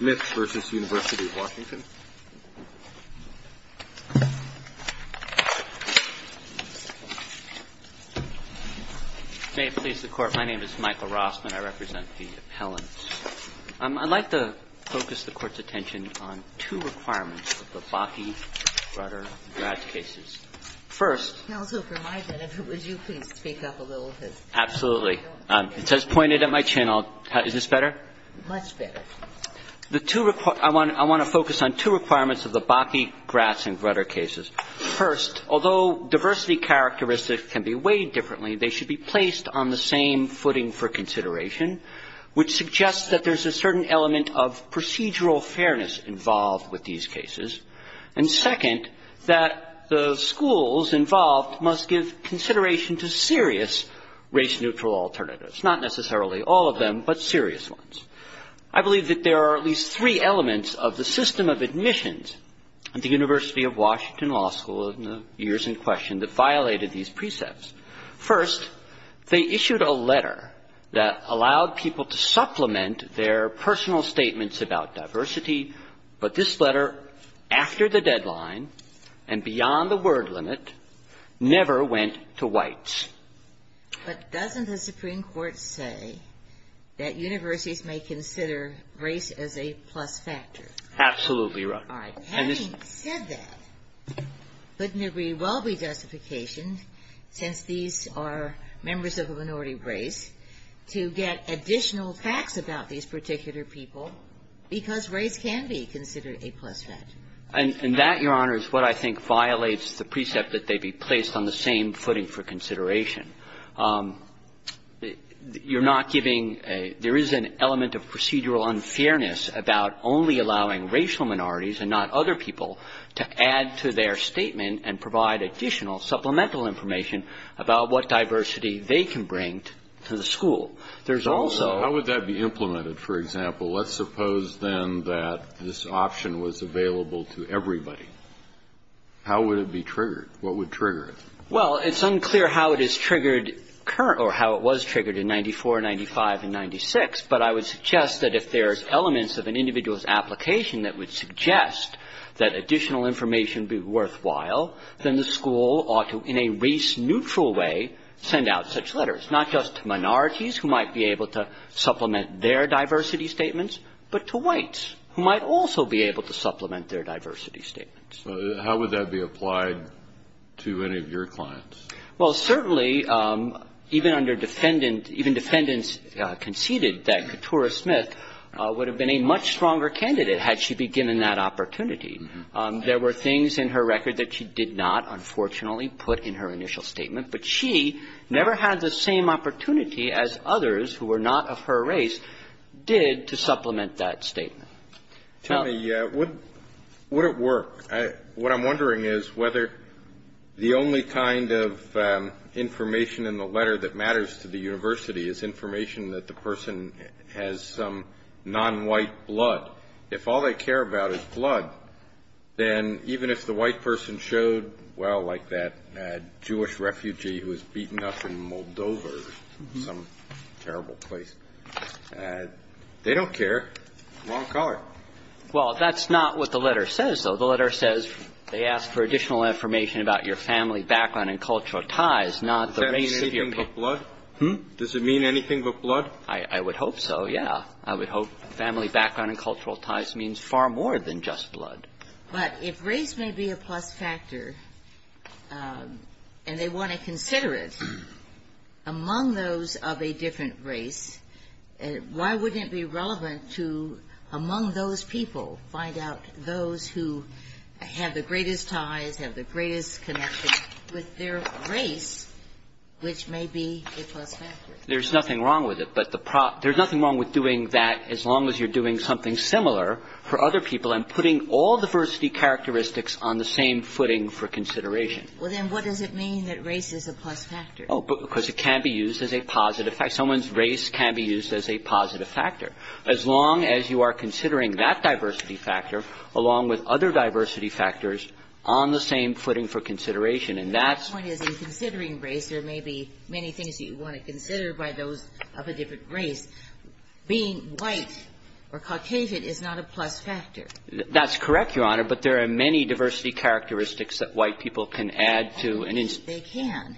May it please the Court, my name is Michael Rossman, I represent the appellants. I'd like to focus the Court's attention on two requirements of the Bakke, Rutter, and Gratz cases. First Counsel, for my benefit, would you please speak up a little bit? Absolutely. It says pointed at my chin. Is this better? Much better. I want to focus on two requirements of the Bakke, Gratz, and Grutter cases. First, although diversity characteristics can be weighed differently, they should be placed on the same footing for consideration, which suggests that there's a certain element of procedural fairness involved with these cases. And second, that the schools involved must give consideration to serious race-neutral alternatives, not necessarily all of them, but serious ones. I believe that there are at least three elements of the system of admissions at the University of Washington Law School in the years in question that violated these precepts. First, they issued a letter that allowed people to supplement their personal statements about diversity, but this letter, after the deadline and beyond the word limit, never went to whites. But doesn't the Supreme Court say that universities may consider race as a plus factor? Absolutely right. All right. Having said that, wouldn't it very well be justification, since these are members of a minority race, to get additional facts about these particular people, because race can be considered a plus factor? And that, Your Honor, is what I think violates the precept that they be placed on the same footing for consideration. You're not giving a – there is an element of procedural unfairness about only allowing racial minorities and not other people to add to their statement and provide additional supplemental information about what diversity they can bring to the school. There's also – How would that be implemented, for example? Let's suppose, then, that this option was available to everybody. How would it be triggered? What would trigger it? Well, it's unclear how it is triggered – or how it was triggered in 94, 95, and 96, but I would suggest that if there's elements of an individual's application that would suggest that additional information would be worthwhile, then the school ought to, in a race-neutral way, send out such letters, not just to minorities who might be able to supplement their diversity statements, but to whites who might also be able to supplement their diversity statements. So how would that be applied to any of your clients? Well, certainly, even under defendant – even defendants conceded that Keturah Smith would have been a much stronger candidate had she been given that opportunity. There were things in her record that she did not, unfortunately, put in her initial statement, but she never had the same opportunity as others who were not of her race did to supplement that statement. Tell me, would it work? What I'm wondering is whether the only kind of information in the letter that matters to the university is information that the person has some non-white blood. If all they care about is blood, then even if the white person showed, well, like that Jewish refugee who was beaten up in Moldova or some terrible place, they don't care. Wrong color. Well, that's not what the letter says, though. The letter says they ask for additional information about your family background and cultural ties, not the race of your people. Does it mean anything but blood? I would hope so, yeah. I would hope family background and cultural ties means far more than just blood. But if race may be a plus factor, and they want to consider it, among those of a different race, why wouldn't it be relevant to, among those people, find out those who have the greatest ties, have the greatest connection with their race, which may be a plus factor? There's nothing wrong with it. But the pro – there's nothing wrong with doing that as long as you're doing something similar for other people and putting all diversity characteristics on the same footing for consideration. Well, then what does it mean that race is a plus factor? Because it can be used as a positive factor. Someone's race can be used as a positive factor. As long as you are considering that diversity factor along with other diversity factors on the same footing for consideration, and that's – My point is in considering race, there may be many things you want to consider by those of a different race. Being white or Caucasian is not a plus factor. That's correct, Your Honor. But there are many diversity characteristics that white people can add to an instance. Indeed, they can.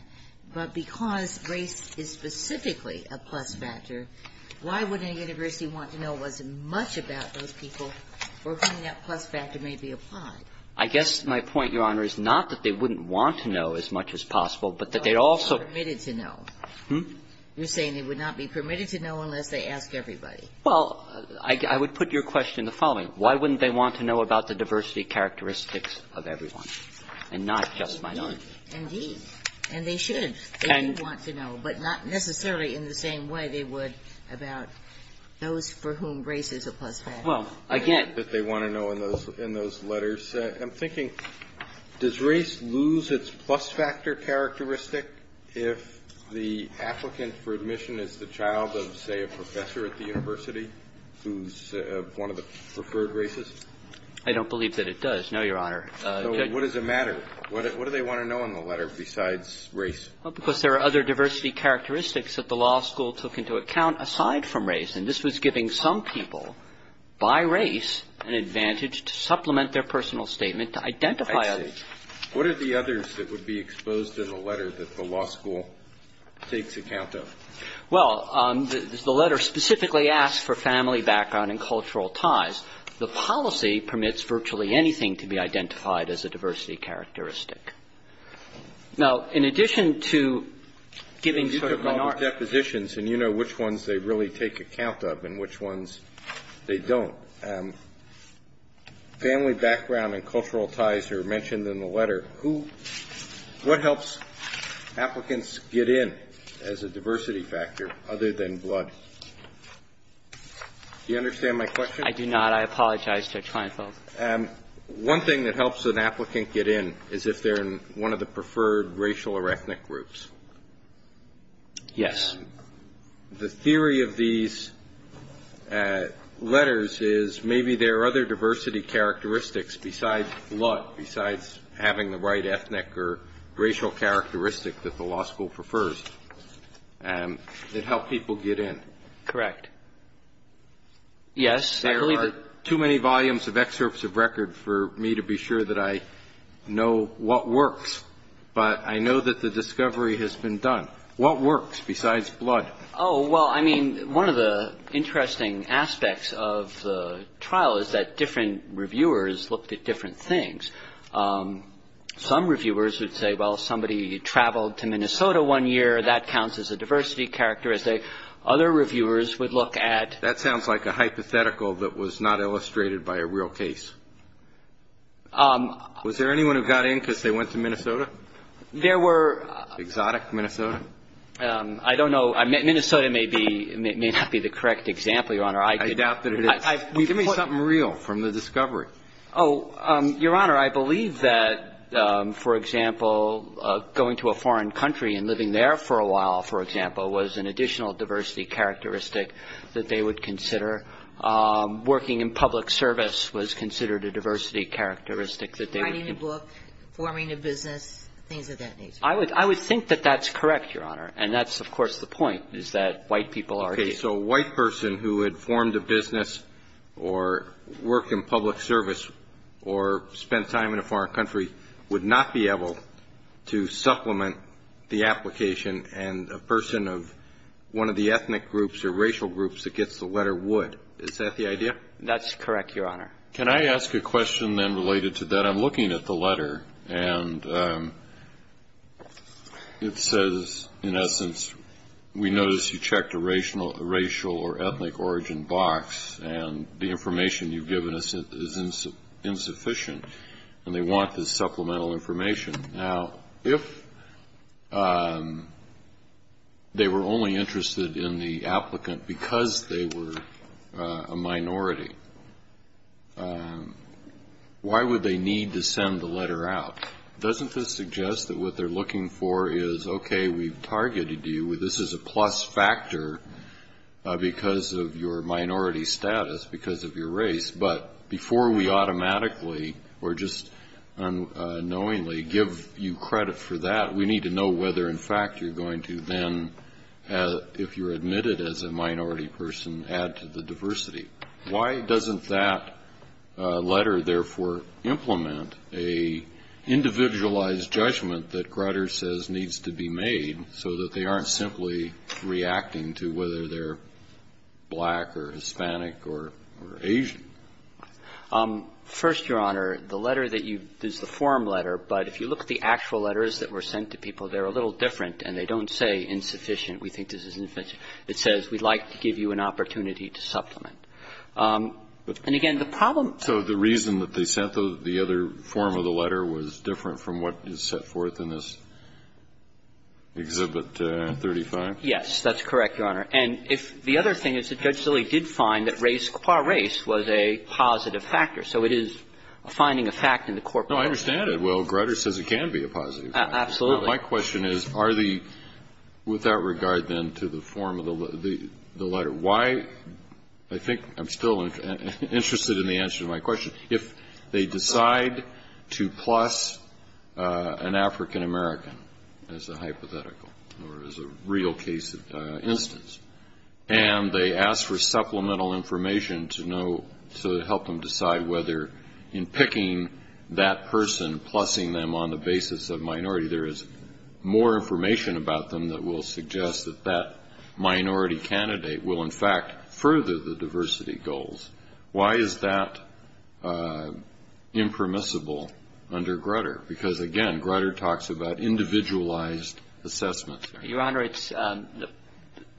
But because race is specifically a plus factor, why wouldn't a university want to know as much about those people for whom that plus factor may be applied? I guess my point, Your Honor, is not that they wouldn't want to know as much as possible, but that they'd also – But they're not permitted to know. Hmm? You're saying they would not be permitted to know unless they asked everybody. Well, I would put your question the following. Why wouldn't they want to know about the diversity characteristics of everyone and not just minorities? Indeed. And they should. They do want to know, but not necessarily in the same way they would about those for whom race is a plus factor. Well, again – That they want to know in those letters. I'm thinking, does race lose its plus factor characteristic if the applicant for admission is the child of, say, a professor at the university who's one of the preferred races? I don't believe that it does, no, Your Honor. So what does it matter? What do they want to know in the letter besides race? Well, because there are other diversity characteristics that the law school took into account aside from race, and this was giving some people by race an advantage to supplement their personal statement to identify others. What are the others that would be exposed in the letter that the law school takes account of? Well, the letter specifically asks for family background and cultural ties. The policy permits virtually anything to be identified as a diversity characteristic. Now, in addition to giving – You took all the depositions, and you know which ones they really take account of and which ones they don't. Family background and cultural ties are mentioned in the letter. Who – what helps applicants get in as a diversity factor other than blood? Do you understand my question? I do not. I apologize, Judge Kleinfeld. One thing that helps an applicant get in is if they're in one of the preferred racial or ethnic groups. Yes. The theory of these letters is maybe there are other diversity characteristics besides blood, besides having the right ethnic or racial characteristic that the law school prefers that help people get in. Correct. Yes. I believe there are too many volumes of excerpts of record for me to be sure that I know what works. But I know that the discovery has been done. What works besides blood? Oh, well, I mean, one of the interesting aspects of the trial is that different reviewers looked at different things. Some reviewers would say, well, somebody traveled to Minnesota one year. That counts as a diversity characteristic. Other reviewers would look at – That sounds like a hypothetical that was not illustrated by a real case. Was there anyone who got in because they went to Minnesota? There were – Exotic Minnesota? I don't know. Minnesota may not be the correct example, Your Honor. I doubt that it is. Give me something real from the discovery. Your Honor, I believe that, for example, going to a foreign country and living there for a while, for example, was an additional diversity characteristic that they would consider. Working in public service was considered a diversity characteristic that they would – Writing a book, forming a business, things of that nature. I would think that that's correct, Your Honor. And that's, of course, the point, is that white people are – Okay. So a white person who had formed a business or worked in public service or spent time in a foreign country would not be able to supplement the racial groups that gets the letter would. Is that the idea? That's correct, Your Honor. Can I ask a question then related to that? I'm looking at the letter, and it says, in essence, we notice you checked a racial or ethnic origin box, and the information you've given us is insufficient, and they want this supplemental information. Now, if they were only interested in the applicant because they were a minority, why would they need to send the letter out? Doesn't this suggest that what they're looking for is, okay, we've targeted you. This is a plus factor because of your minority status, because of your race. But before we automatically or just unknowingly give you credit for that, we need to know whether, in fact, you're going to then, if you're admitted as a minority person, add to the diversity. Why doesn't that letter, therefore, implement a individualized judgment that Grutter says needs to be made so that they aren't simply reacting to whether they're black or Hispanic or Asian? First, Your Honor, the letter that you've used, the form letter, but if you look at the actual letters that were sent to people, they're a little different, and they don't say insufficient. We think this is insufficient. It says we'd like to give you an opportunity to supplement. And, again, the problem to the reason that they sent the other form of the letter was different from what is set forth in this Exhibit 35. Yes. That's correct, Your Honor. And if the other thing is that Judge Silley did find that race, qua race, was a positive factor. So it is finding a fact in the court process. No, I understand it. Well, Grutter says it can be a positive factor. Absolutely. My question is, are the, with that regard, then, to the form of the letter, why, I think I'm still interested in the answer to my question, if they decide to plus an African American as a hypothetical or as a real case instance, and they ask for supplemental information to know, to help them decide whether in picking that person, plussing them on the basis of minority, there is more information about them that will suggest that that minority candidate will, in fact, further the diversity goals, why is that impermissible under Grutter? Because, again, Grutter talks about individualized assessments. Your Honor, it's,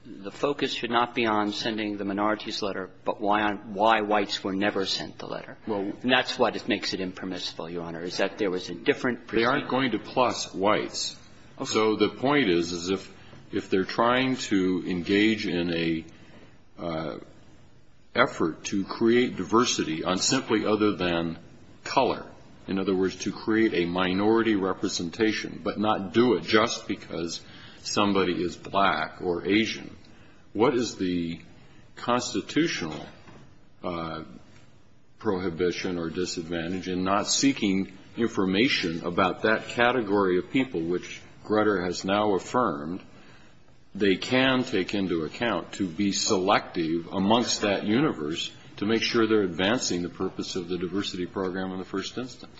the focus should not be on sending the minorities letter, but why whites were never sent the letter. And that's what makes it impermissible, Your Honor, is that there was a different presentation. They aren't going to plus whites. So the point is, is if they're trying to engage in a effort to create diversity on simply other than color, in other words, to create a minority representation, but not do it just because somebody is black or Asian, what is the constitutional prohibition or disadvantage in not seeking information about that category of people which Grutter has now affirmed they can take into account to be selective amongst that universe to make sure they're advancing the purpose of the diversity program in the first instance?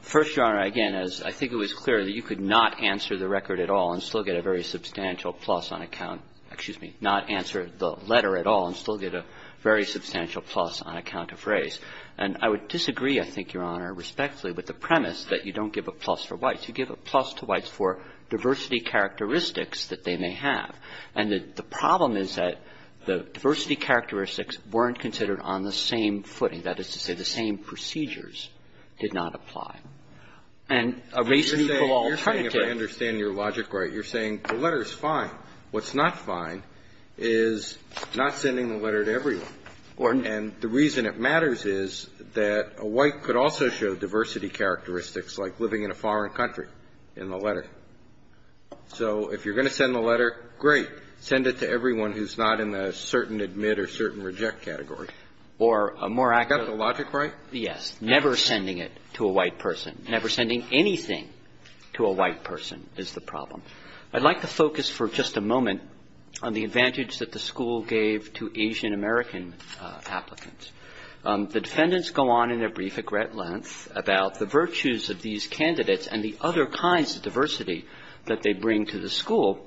First, Your Honor, again, as I think it was clear that you could not answer the record at all and still get a very substantial plus on account, excuse me, not answer the letter at all and still get a very substantial plus on account of race. And I would disagree, I think, Your Honor, respectfully, with the premise that you don't give a plus for whites. You give a plus to whites for diversity characteristics that they may have. And the problem is that the diversity characteristics weren't considered on the same footing. That is to say, the same procedures did not apply. And a race equal alternative. You're saying, if I understand your logic right, you're saying the letter is fine. What's not fine is not sending the letter to everyone. And the reason it matters is that a white could also show diversity characteristics like living in a foreign country in the letter. So if you're going to send the letter, great. Send it to everyone who's not in the certain admit or certain reject category. Or a more accurate. Is that the logic right? Yes. Never sending it to a white person. Never sending anything to a white person is the problem. I'd like to focus for just a moment on the advantage that the school gave to Asian-American applicants. The defendants go on in their brief at great length about the virtues of these candidates and the other kinds of diversity that they bring to the school.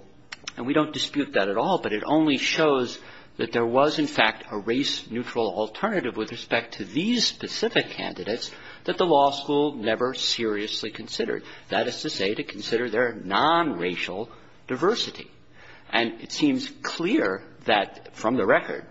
And we don't dispute that at all, but it only shows that there was, in fact, a race-neutral alternative with respect to these specific candidates that the law school never seriously considered. That is to say, to consider their nonracial diversity. And it seems clear that, from the record,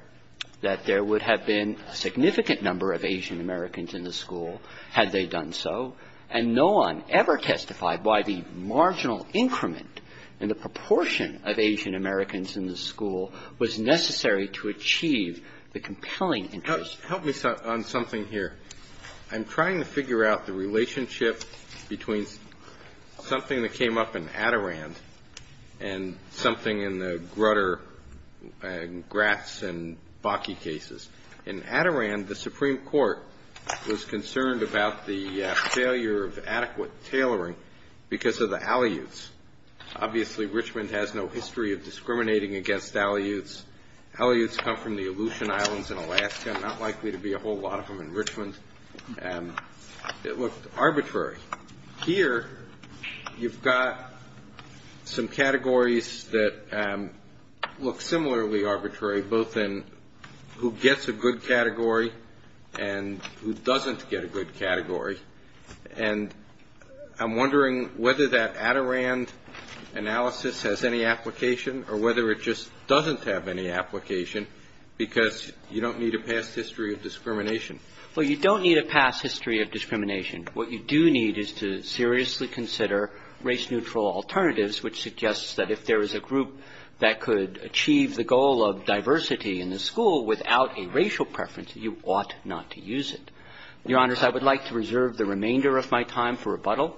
that there would have been a significant number of Asian-Americans in the school had they done so. And no one ever testified why the marginal increment in the proportion of Asian-Americans in the school was necessary to achieve the compelling interest. Help me on something here. I'm trying to figure out the relationship between something that came up in Adirond and something in the Grutter and Gratz and Bakke cases. In Adirond, the Supreme Court was concerned about the failure of adequate tailoring because of the Aleuts. Obviously, Richmond has no history of discriminating against Aleuts. Aleuts come from the Aleutian Islands in Alaska. Not likely to be a whole lot of them in Richmond. It looked arbitrary. Here, you've got some categories that look similarly arbitrary, both in who gets a good category and who doesn't get a good category. And I'm wondering whether that Adirond analysis has any application or whether it just doesn't have any application, because you don't need a past history of discrimination. What you do need is to seriously consider race-neutral alternatives, which suggests that if there is a group that could achieve the goal of diversity in the school without a racial preference, you ought not to use it. Your Honors, I would like to reserve the remainder of my time for rebuttal.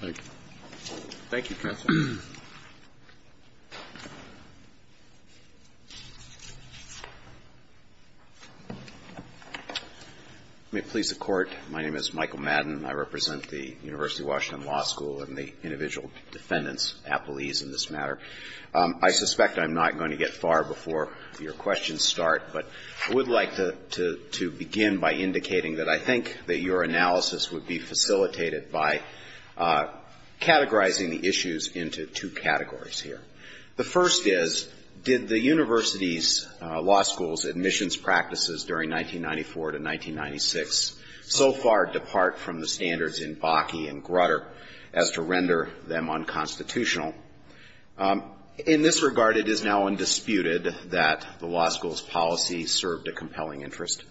Thank you. Thank you, counsel. May it please the Court. My name is Michael Madden. I represent the University of Washington Law School and the individual defendants appellees in this matter. I suspect I'm not going to get far before your questions start, but I would like to begin by indicating that I think that your analysis would be facilitated by categorizing the issues into two categories here. The first is, did the university's law school's admissions practices during 1994 to 1996 so far depart from the standards in Bakke and Grutter as to render them unconstitutional? In this regard, it is now undisputed that the law school's policy served a compelling interest.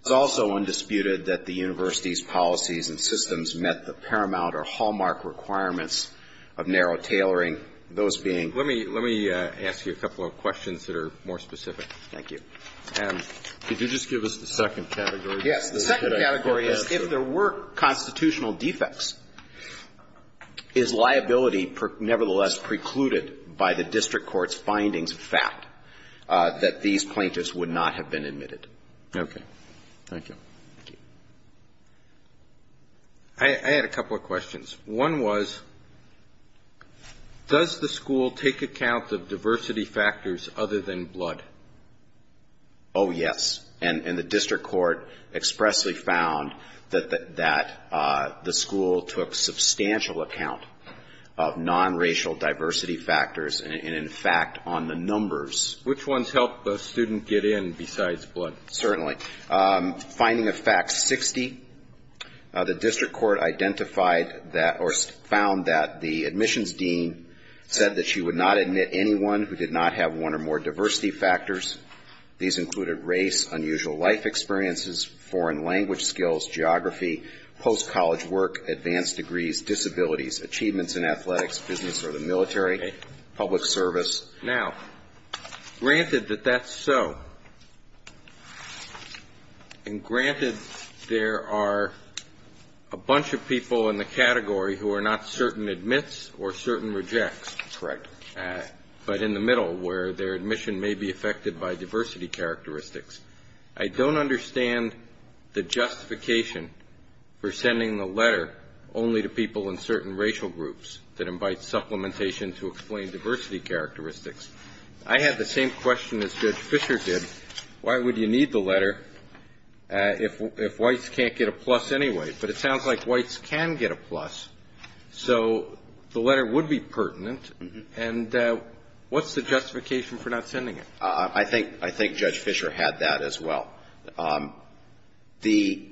It's also undisputed that the university's policies and systems met the paramount or hallmark requirements of narrow tailoring, those being the law school's standards. Let me ask you a couple of questions that are more specific. Thank you. Could you just give us the second category? Yes. The second category is, if there were constitutional defects, is liability nevertheless precluded by the district court's findings of fact that these plaintiffs would not have been admitted? Okay. Thank you. Thank you. I had a couple of questions. One was, does the school take account of diversity factors other than blood? Oh, yes. And the district court expressly found that the school took substantial account of nonracial diversity factors and, in fact, on the numbers. Which ones help a student get in besides blood? Certainly. Finding of fact 60, the district court identified that or found that the admissions dean said that she would not admit anyone who did not have one or more diversity factors. These included race, unusual life experiences, foreign language skills, geography, post-college work, advanced degrees, disabilities, achievements in athletics, business or the military, public service. Now, granted that that's so, and granted there are a bunch of people in the category who are not certain admits or certain rejects. Correct. But in the middle, where their admission may be affected by diversity characteristics, I don't understand the justification for sending the letter only to people in certain racial groups that invite supplementation to explain diversity characteristics. I had the same question as Judge Fischer did. Why would you need the letter if whites can't get a plus anyway? But it sounds like whites can get a plus, so the letter would be pertinent. And what's the justification for not sending it? I think Judge Fischer had that as well. The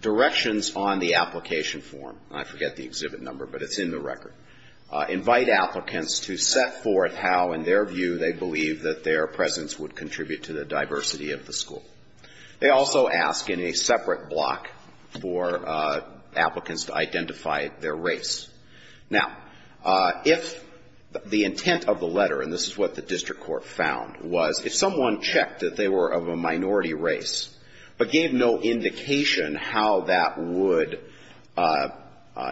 directions on the application form, I forget the exhibit number, but it's in the record, invite applicants to set forth how in their view they believe that their presence would contribute to the diversity of the school. They also ask in a separate block for applicants to identify their race. Now, if the intent of the letter, and this is what the district court found, was if someone checked that they were of a minority race, but gave no indication how that would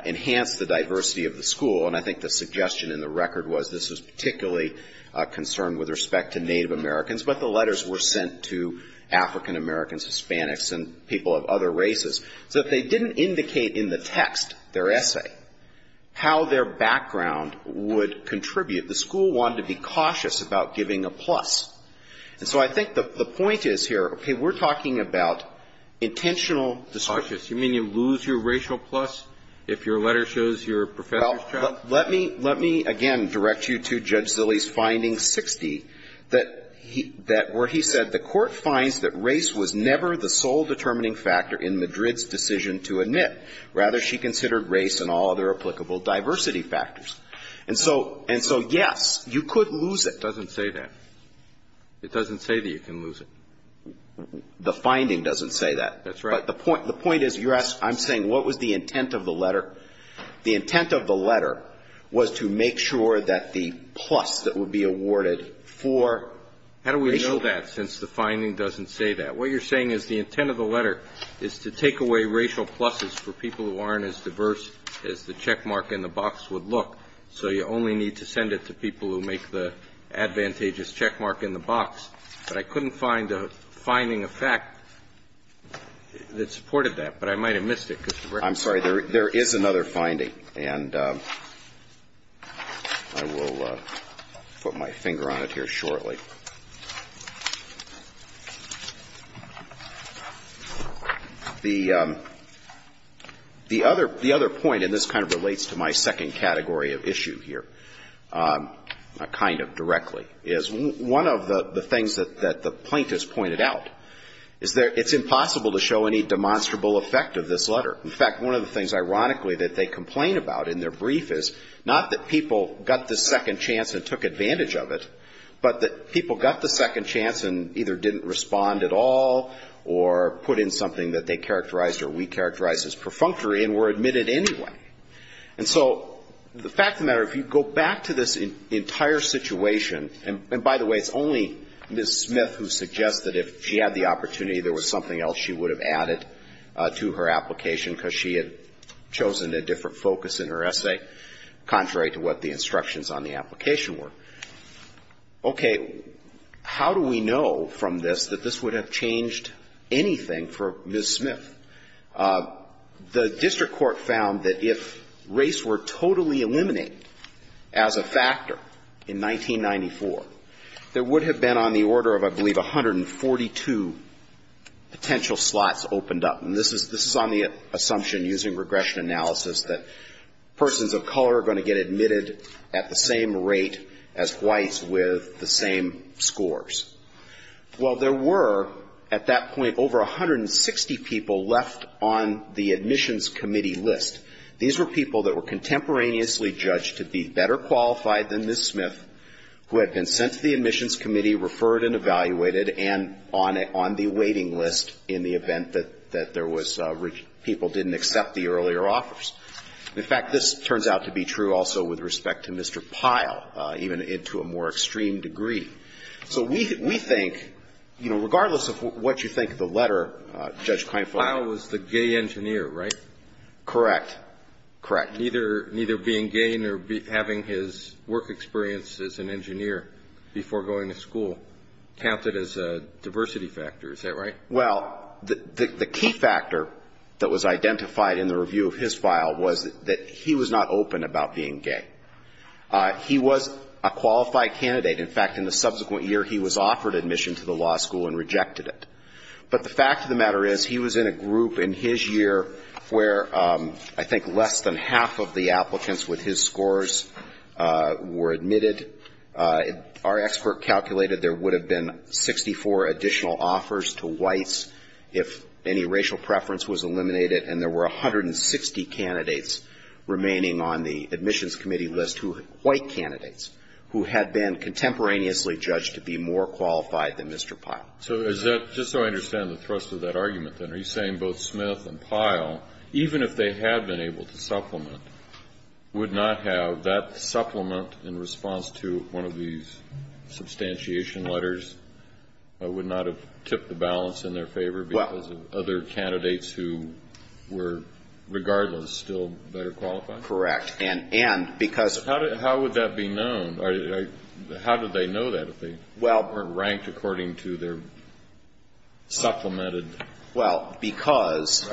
enhance the diversity of the school, and I think the suggestion in the record was this is particularly a concern with respect to Native Americans, but the letters were sent to African Americans, Hispanics, and people of other races. So if they didn't indicate in the text, their essay, how their background would contribute, the school wanted to be cautious about giving a plus. And so I think the point is here, okay, we're talking about intentional description. Kennedy. You mean you lose your racial plus if your letter shows your professor's chapter? Well, let me, again, direct you to Judge Zilli's finding 60, that where he said the court finds that race was never the sole determining factor in Madrid's decision to admit. Rather, she considered race and all other applicable diversity factors. And so, yes, you could lose it. But it doesn't say that. It doesn't say that you can lose it. The finding doesn't say that. That's right. But the point is, I'm saying what was the intent of the letter? The intent of the letter was to make sure that the plus that would be awarded for racial How do we know that since the finding doesn't say that? What you're saying is the intent of the letter is to take away racial pluses for people who aren't as diverse as the checkmark in the box would look. So you only need to send it to people who make the advantageous checkmark in the box. But I couldn't find a finding of fact that supported that. But I might have missed it. I'm sorry. There is another finding. And I will put my finger on it here shortly. One of the things that the plaintiffs pointed out is it's impossible to show any demonstrable effect of this letter. In fact, one of the things, ironically, that they complain about in their brief is not that people got the second chance and took advantage of it, but that people got the second chance and either didn't respond at all or put in something that they characterized or we characterized as perfunctory and were admitted anyway. And so the fact of the matter, if you go back to this entire situation, and by the way, it's only Ms. Smith who suggested if she had the opportunity, there was something else she would have added to her application because she had chosen a different focus in her essay, contrary to what the instructions on the application were. Okay. How do we know from this that this would have changed anything for Ms. Smith? The district court found that if race were totally eliminated as a factor in 1994, there would have been on the order of, I believe, 142 potential slots opened up. And this is on the assumption, using regression analysis, that persons of color are going to get admitted at the same rate as whites with the same scores. Well, there were, at that point, over 160 people left on the admissions committee list. These were people that were contemporaneously judged to be better qualified than Ms. Smith, who had been sent to the admissions committee, referred and evaluated, and on the waiting list in the event that there was people didn't accept the earlier offers. In fact, this turns out to be true also with respect to Mr. Pyle, even to a more extreme degree. So we think, you know, regardless of what you think of the letter, Judge Kleinfeld. Pyle was the gay engineer, right? Correct. Correct. Neither being gay nor having his work experience as an engineer before going to school counted as a diversity factor, is that right? Well, the key factor that was identified in the review of his file was that he was not open about being gay. He was a qualified candidate. In fact, in the subsequent year, he was offered admission to the law school and rejected it. But the fact of the matter is he was in a group in his year where I think less than half of the applicants with his scores were admitted. Our expert calculated there would have been 64 additional offers to whites if any racial preference was eliminated, and there were 160 candidates remaining on the admissions committee list who were white candidates who had been contemporaneously judged to be more qualified than Mr. Pyle. So is that, just so I understand the thrust of that argument, then, are you saying both Smith and Pyle, even if they had been able to supplement, would not have that supplement in response to one of these substantiation letters, would not have tipped the balance in their favor because of other candidates who were, regardless, still better qualified? Correct. And because How would that be known? How did they know that if they weren't ranked according to their supplemented Well, because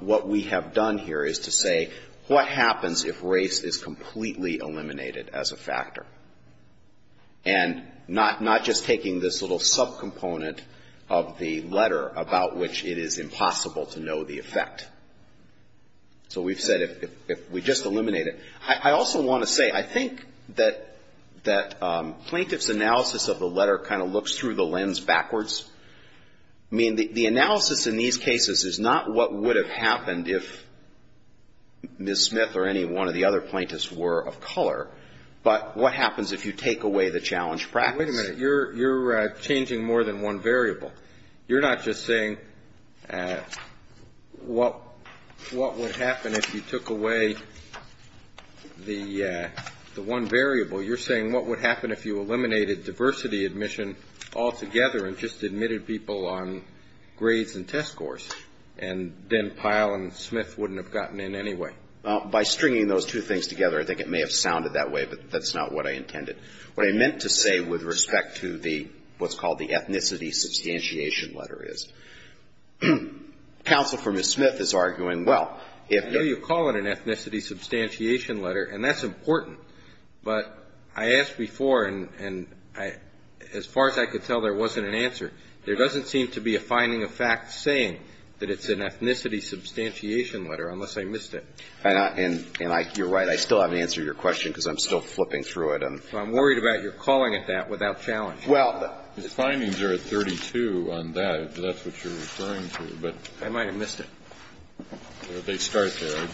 what we have done here is to say what happens if race is completely eliminated as a factor? And not just taking this little subcomponent of the letter about which it is impossible to know the effect. So we've said if we just eliminate it. I also want to say, I think that plaintiff's analysis of the letter kind of looks through the lens backwards. I mean, the analysis in these cases is not what would have happened if Ms. Smith or any one of the other plaintiffs were of color, but what happens if you take away the challenge practice? Wait a minute. You're changing more than one variable. You're not just saying what would happen if you took away the one variable. You're saying what would happen if you eliminated diversity admission altogether and just admitted people on grades and test scores? And then Pyle and Smith wouldn't have gotten in anyway. By stringing those two things together, I think it may have sounded that way, but that's not what I intended. What I meant to say with respect to the, what's called the ethnicity substantiation letter is, counsel for Ms. Smith is arguing, well, if you call it an ethnicity substantiation letter, and that's important, but I asked before, and as far as I could tell, there wasn't an answer. There doesn't seem to be a finding of fact saying that it's an ethnicity substantiation letter unless I missed it. And I, you're right. I still haven't answered your question because I'm still flipping through it. So I'm worried about your calling it that without challenging it. Well, the findings are at 32 on that, if that's what you're referring to. I might have missed it. They start there.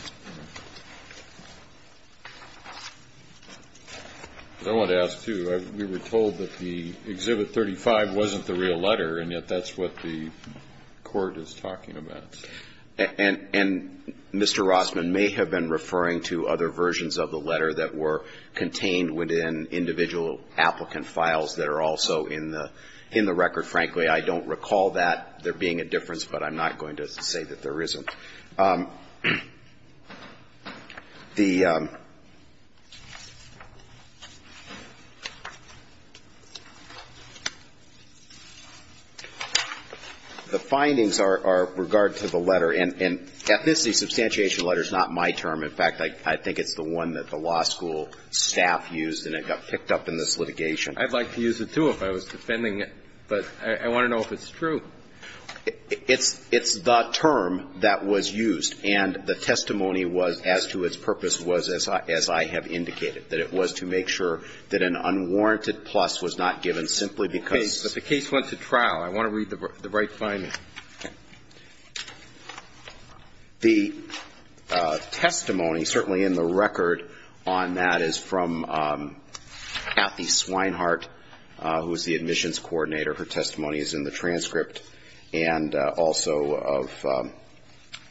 I wanted to ask, too. We were told that the Exhibit 35 wasn't the real letter, and yet that's what the Court is talking about. And Mr. Rossman may have been referring to other versions of the letter that were in individual applicant files that are also in the record. Frankly, I don't recall that there being a difference, but I'm not going to say that there isn't. The findings are with regard to the letter. And ethnicity substantiation letter is not my term. In fact, I think it's the one that the law school staff used and it got picked up in this litigation. I'd like to use it, too, if I was defending it. But I want to know if it's true. It's the term that was used. And the testimony was, as to its purpose, was, as I have indicated, that it was to make sure that an unwarranted plus was not given simply because the case went to trial. I want to read the right findings. The testimony, certainly in the record on that, is from Kathy Swinehart, who is the admissions coordinator. Her testimony is in the transcript. And also of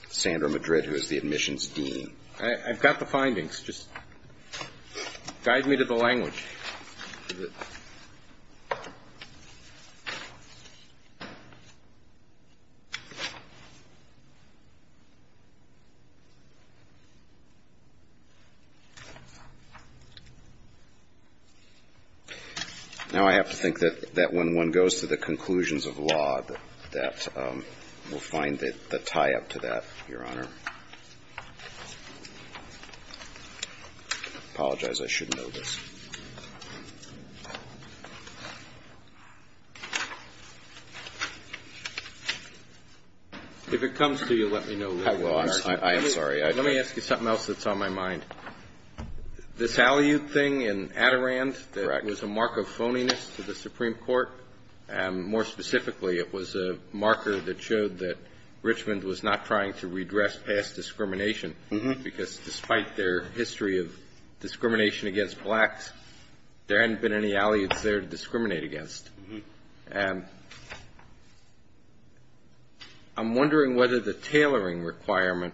Sandra Madrid, who is the admissions dean. I've got the findings. Just guide me to the language. Now I have to think that when one goes to the conclusions of the law, that we'll find the tie-up to that, Your Honor. I apologize. I should know this. If it comes to you, let me know, Your Honor. I'm sorry. Let me ask you something else that's on my mind. This Hallyu thing in Adirond, there was a mark of phoniness to the Supreme Court. More specifically, it was a marker that showed that Richmond was not trying to redress past discrimination, because despite their history of discrimination against blacks, there hadn't been any allies there to discriminate against. I'm wondering whether the tailoring requirement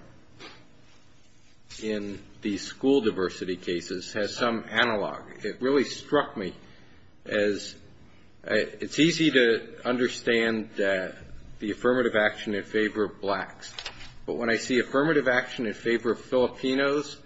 in the school diversity cases has some analog. It really struck me as it's easy to understand the affirmative action in favor of blacks. But when I see affirmative action in favor of Filipinos,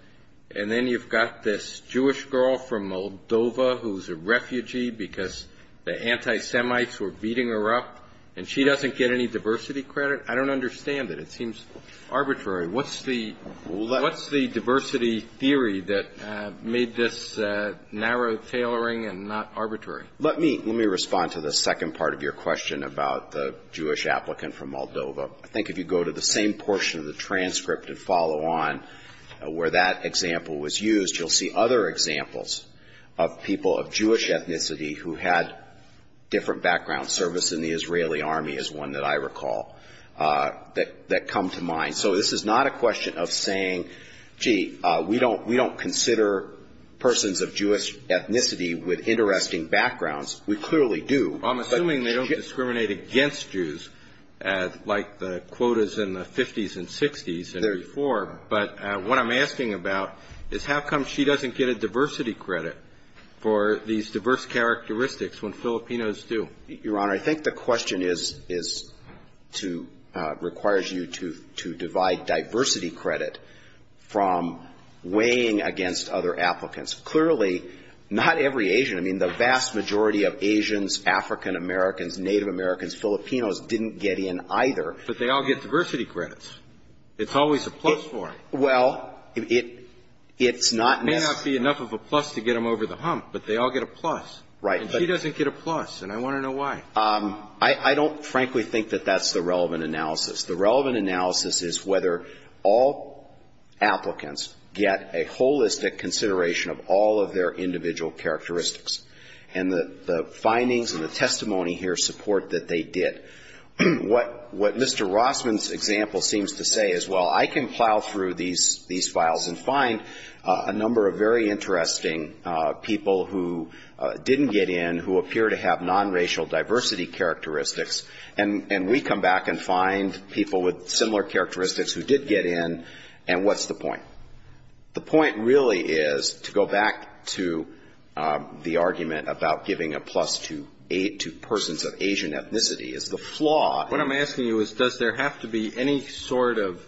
and then you've got this Jewish girl from Moldova who's a refugee because the anti-Semites were beating her up, and she doesn't get any diversity credit, I don't understand it. It seems arbitrary. What's the diversity theory that made this narrow tailoring and not arbitrary? Let me respond to the second part of your question about the Jewish applicant from Moldova. I think if you go to the same portion of the transcript and follow on where that example was used, you'll see other examples of people of Jewish ethnicity who had different background service in the Israeli army is one that I recall that come to mind. So this is not a question of saying, gee, we don't consider persons of Jewish ethnicity with interesting backgrounds. We clearly do. I'm assuming they don't discriminate against Jews like the quotas in the 50s and 60s and before. But what I'm asking about is how come she doesn't get a diversity credit for these diverse characteristics when Filipinos do? Your Honor, I think the question is to — requires you to divide diversity credit from weighing against other applicants. Clearly, not every Asian, I mean, the vast majority of Asians, African-Americans, Native Americans, Filipinos didn't get in either. But they all get diversity credits. It's always a plus for them. Well, it's not necessary. It may not be enough of a plus to get them over the hump, but they all get a plus. Right. And she doesn't get a plus, and I want to know why. I don't frankly think that that's the relevant analysis. The relevant analysis is whether all applicants get a holistic consideration of all of their individual characteristics. And the findings and the testimony here support that they did. What Mr. Rossman's example seems to say is, well, I can plow through these files and find a number of very interesting people who didn't get in, who appear to have nonracial diversity characteristics, and we come back and find people with similar characteristics who did get in, and what's the point? The point really is, to go back to the argument about giving a plus to persons of Asian ethnicity, is the flaw. What I'm asking you is, does there have to be any sort of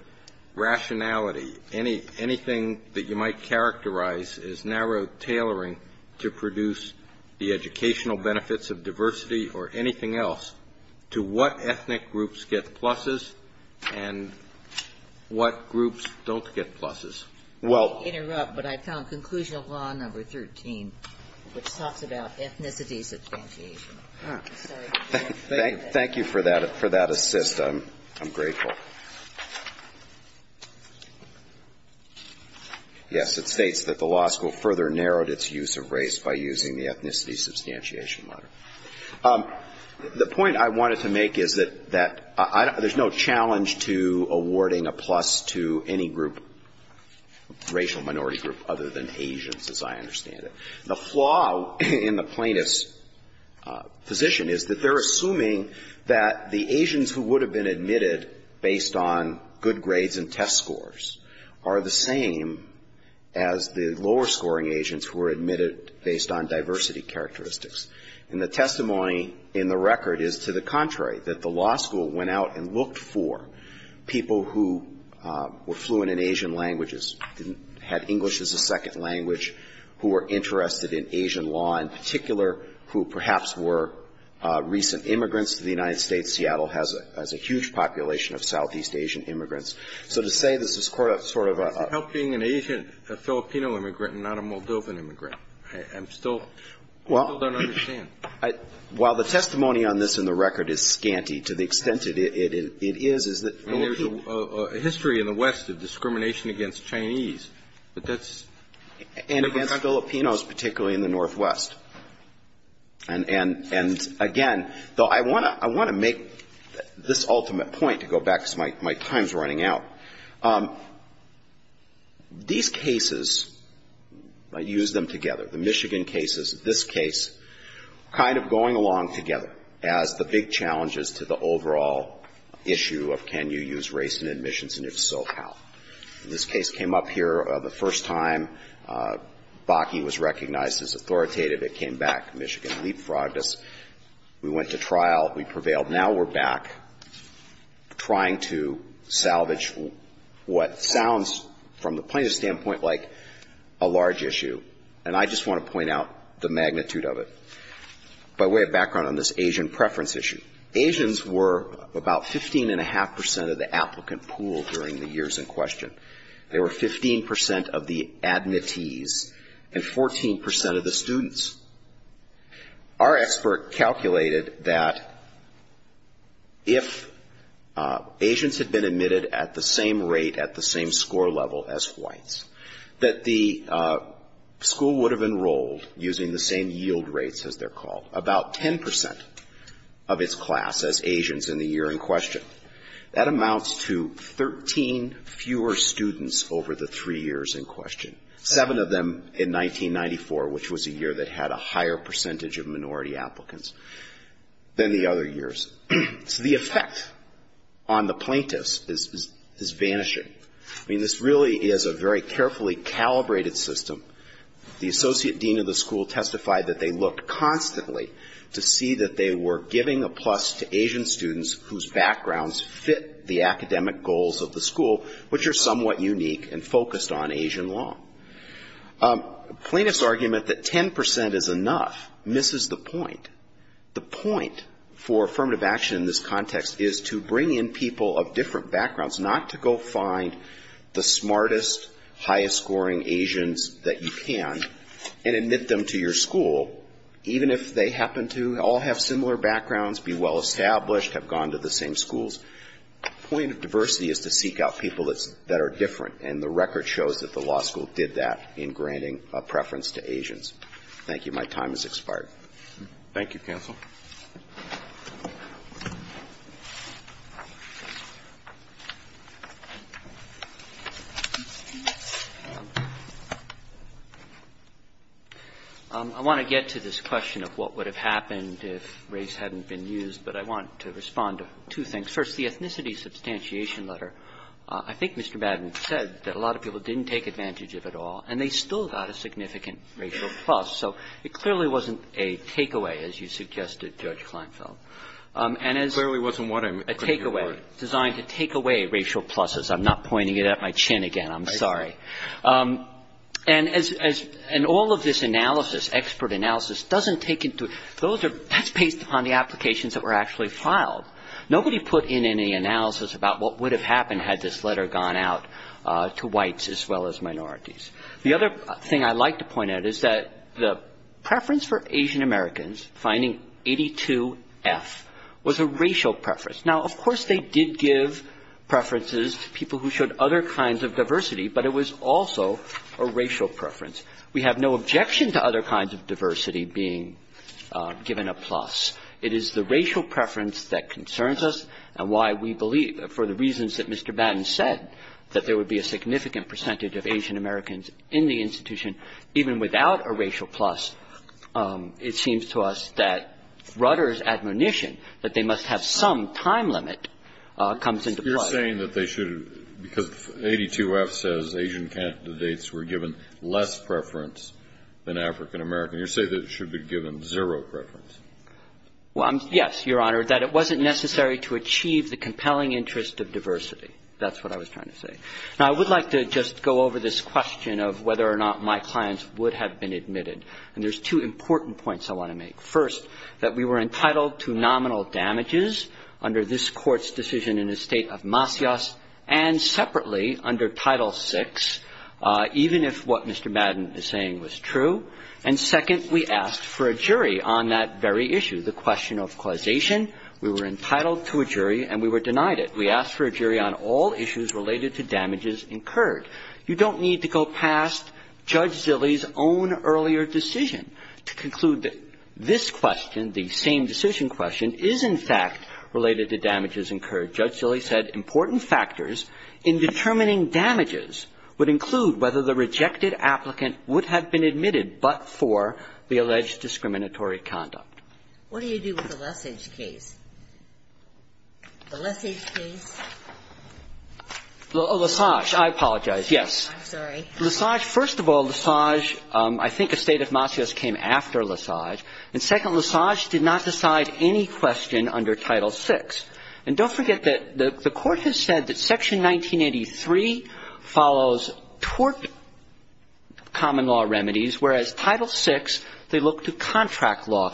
rationality, anything that you might characterize as narrow tailoring to produce the educational benefits of diversity or anything else, to what ethnic groups get pluses and what groups don't get pluses? Well ---- Let me interrupt, but I found Conclusion of Law No. 13, which talks about ethnicity's differentiation. Thank you for that assist. I'm grateful. Yes. It states that the law school further narrowed its use of race by using the ethnicity substantiation letter. The point I wanted to make is that I don't ---- there's no challenge to awarding a plus to any group, racial minority group, other than Asians, as I understand it. The flaw in the plaintiff's position is that they're assuming that the Asians who would have been admitted based on good grades and test scores are the same as the lower-scoring Asians who were admitted based on diversity characteristics. And the testimony in the record is to the contrary, that the law school went out and looked for people who were fluent in Asian languages, had English as a second language, who were interested in Asian law, in particular who perhaps were recent immigrants to the United States. Seattle has a huge population of Southeast Asian immigrants. So to say this is sort of a ---- How does it help being an Asian Filipino immigrant and not a Moldovan immigrant? I'm still ---- Well ---- I still don't understand. Well, the testimony on this in the record is scanty. To the extent it is, is that ---- There's a history in the West of discrimination against Chinese, but that's ---- And against Filipinos, particularly in the Northwest. And again, though I want to make this ultimate point, to go back because my time is running out, these cases, I use them together, the Michigan cases, this case, kind of going along together as the big challenges to the overall issue of can you use race in admissions and if so, how. This case came up here the first time. Bakke was recognized as authoritative. It came back. Michigan leapfrogged us. We went to trial. We prevailed. Now we're back trying to salvage what sounds from the plaintiff's standpoint like a large issue. And I just want to point out the magnitude of it. By way of background on this Asian preference issue, Asians were about 15.5 percent of the year in question. They were 15 percent of the admittees and 14 percent of the students. Our expert calculated that if Asians had been admitted at the same rate, at the same score level as whites, that the school would have enrolled using the same yield rates as they're called, about 10 percent of its class as Asians in the year in question. That amounts to 13 fewer students over the three years in question, seven of them in 1994, which was a year that had a higher percentage of minority applicants than the other years. So the effect on the plaintiffs is vanishing. I mean, this really is a very carefully calibrated system. The associate dean of the school testified that they looked constantly to see that they were giving a plus to Asian students whose backgrounds fit the academic goals of the school, which are somewhat unique and focused on Asian law. A plaintiff's argument that 10 percent is enough misses the point. The point for affirmative action in this context is to bring in people of different backgrounds, not to go find the smartest, highest-scoring Asians that you can and admit them to your school, even if they happen to all have similar backgrounds, be well-established, have gone to the same schools. The point of diversity is to seek out people that are different, and the record shows that the law school did that in granting a preference to Asians. Thank you. Thank you, counsel. I want to get to this question of what would have happened if race hadn't been used, but I want to respond to two things. First, the ethnicity substantiation letter. I think Mr. Madden said that a lot of people didn't take advantage of it all, and they still got a significant racial plus. So it clearly wasn't a takeaway, as you suggested, Judge Kleinfeld. And as a takeaway, designed to take away racial pluses. I'm not pointing it at my chin again. I'm sorry. And as all of this analysis, expert analysis, doesn't take into account, that's based upon the applications that were actually filed. Nobody put in any analysis about what would have happened had this letter gone out to whites as well as minorities. The other thing I'd like to point out is that the preference for Asian Americans, finding 82-F, was a racial preference. Now, of course, they did give preferences to people who showed other kinds of diversity, but it was also a racial preference. We have no objection to other kinds of diversity being given a plus. It is the racial preference that concerns us and why we believe, for the reasons that Mr. Batten said, that there would be a significant percentage of Asian Americans in the institution, even without a racial plus, it seems to us that Rutter's admonition that they must have some time limit comes into play. You're saying that they should, because 82-F says Asian candidates were given less preference than African Americans. You're saying that it should be given zero preference. Well, yes, Your Honor. That it wasn't necessary to achieve the compelling interest of diversity. That's what I was trying to say. Now, I would like to just go over this question of whether or not my clients would have been admitted. And there's two important points I want to make. First, that we were entitled to nominal damages under this Court's decision in the State of Masias and separately under Title VI, even if what Mr. Batten is saying was true. And second, we asked for a jury on that very issue, the question of causation. We were entitled to a jury and we were denied it. We asked for a jury on all issues related to damages incurred. You don't need to go past Judge Zilli's own earlier decision to conclude that this question, the same decision question, is in fact related to damages incurred. Judge Zilli said important factors in determining damages would include whether the rejected applicant would have been admitted but for the alleged discriminatory conduct. What do you do with the Lesage case? The Lesage case? Lesage. I apologize. Yes. I'm sorry. Lesage, first of all, Lesage, I think the State of Masias came after Lesage. And second, Lesage did not decide any question under Title VI. And don't forget that the Court has said that Section 1983 follows tort common law remedies, whereas Title VI, they look to contract law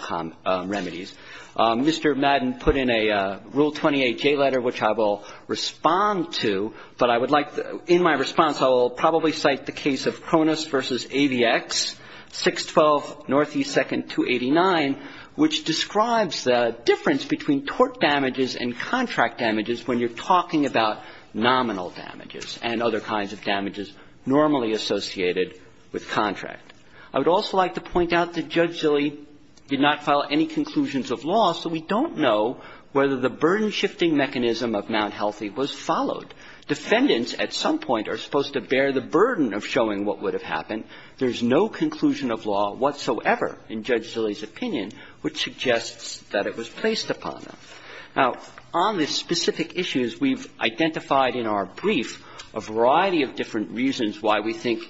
remedies. Mr. Madden put in a Rule 28J letter, which I will respond to, but I would like to – in my response, I will probably cite the case of Cronus v. AVX, 612 Northeast 222-289, which describes the difference between tort damages and contract damages when you're talking about nominal damages and other kinds of damages normally associated with contract. I would also like to point out that Judge Zilli did not file any conclusions of law, so we don't know whether the burden-shifting mechanism of Mount Healthy was followed. Defendants at some point are supposed to bear the burden of showing what would have happened. There's no conclusion of law whatsoever in Judge Zilli's opinion which suggests that it was placed upon them. Now, on this specific issue, as we've identified in our brief, a variety of different reasons why we think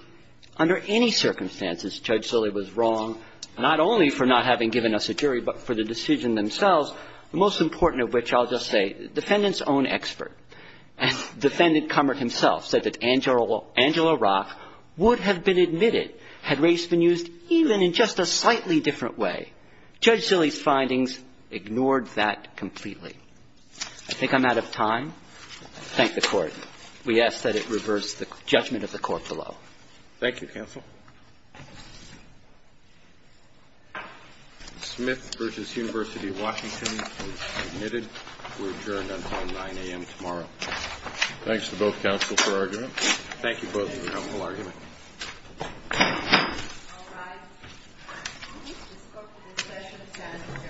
under any circumstances Judge Zilli was wrong, not only for not having given us a jury, but for the decision themselves, the most important of which I'll just say, the defendant's own expert. As Defendant Cummert himself said that Angela Rock would have been admitted had race been used even in just a slightly different way. Judge Zilli's findings ignored that completely. I think I'm out of time. Thank the Court. We ask that it reverse the judgment of the Court below. Roberts. Thank you, counsel. Smith v. University of Washington is admitted. We're adjourned until 9 a.m. tomorrow. Thanks to both counsel for argument. Thank you both for your helpful argument. All rise. The scope of this session stands adjourned. Thank you.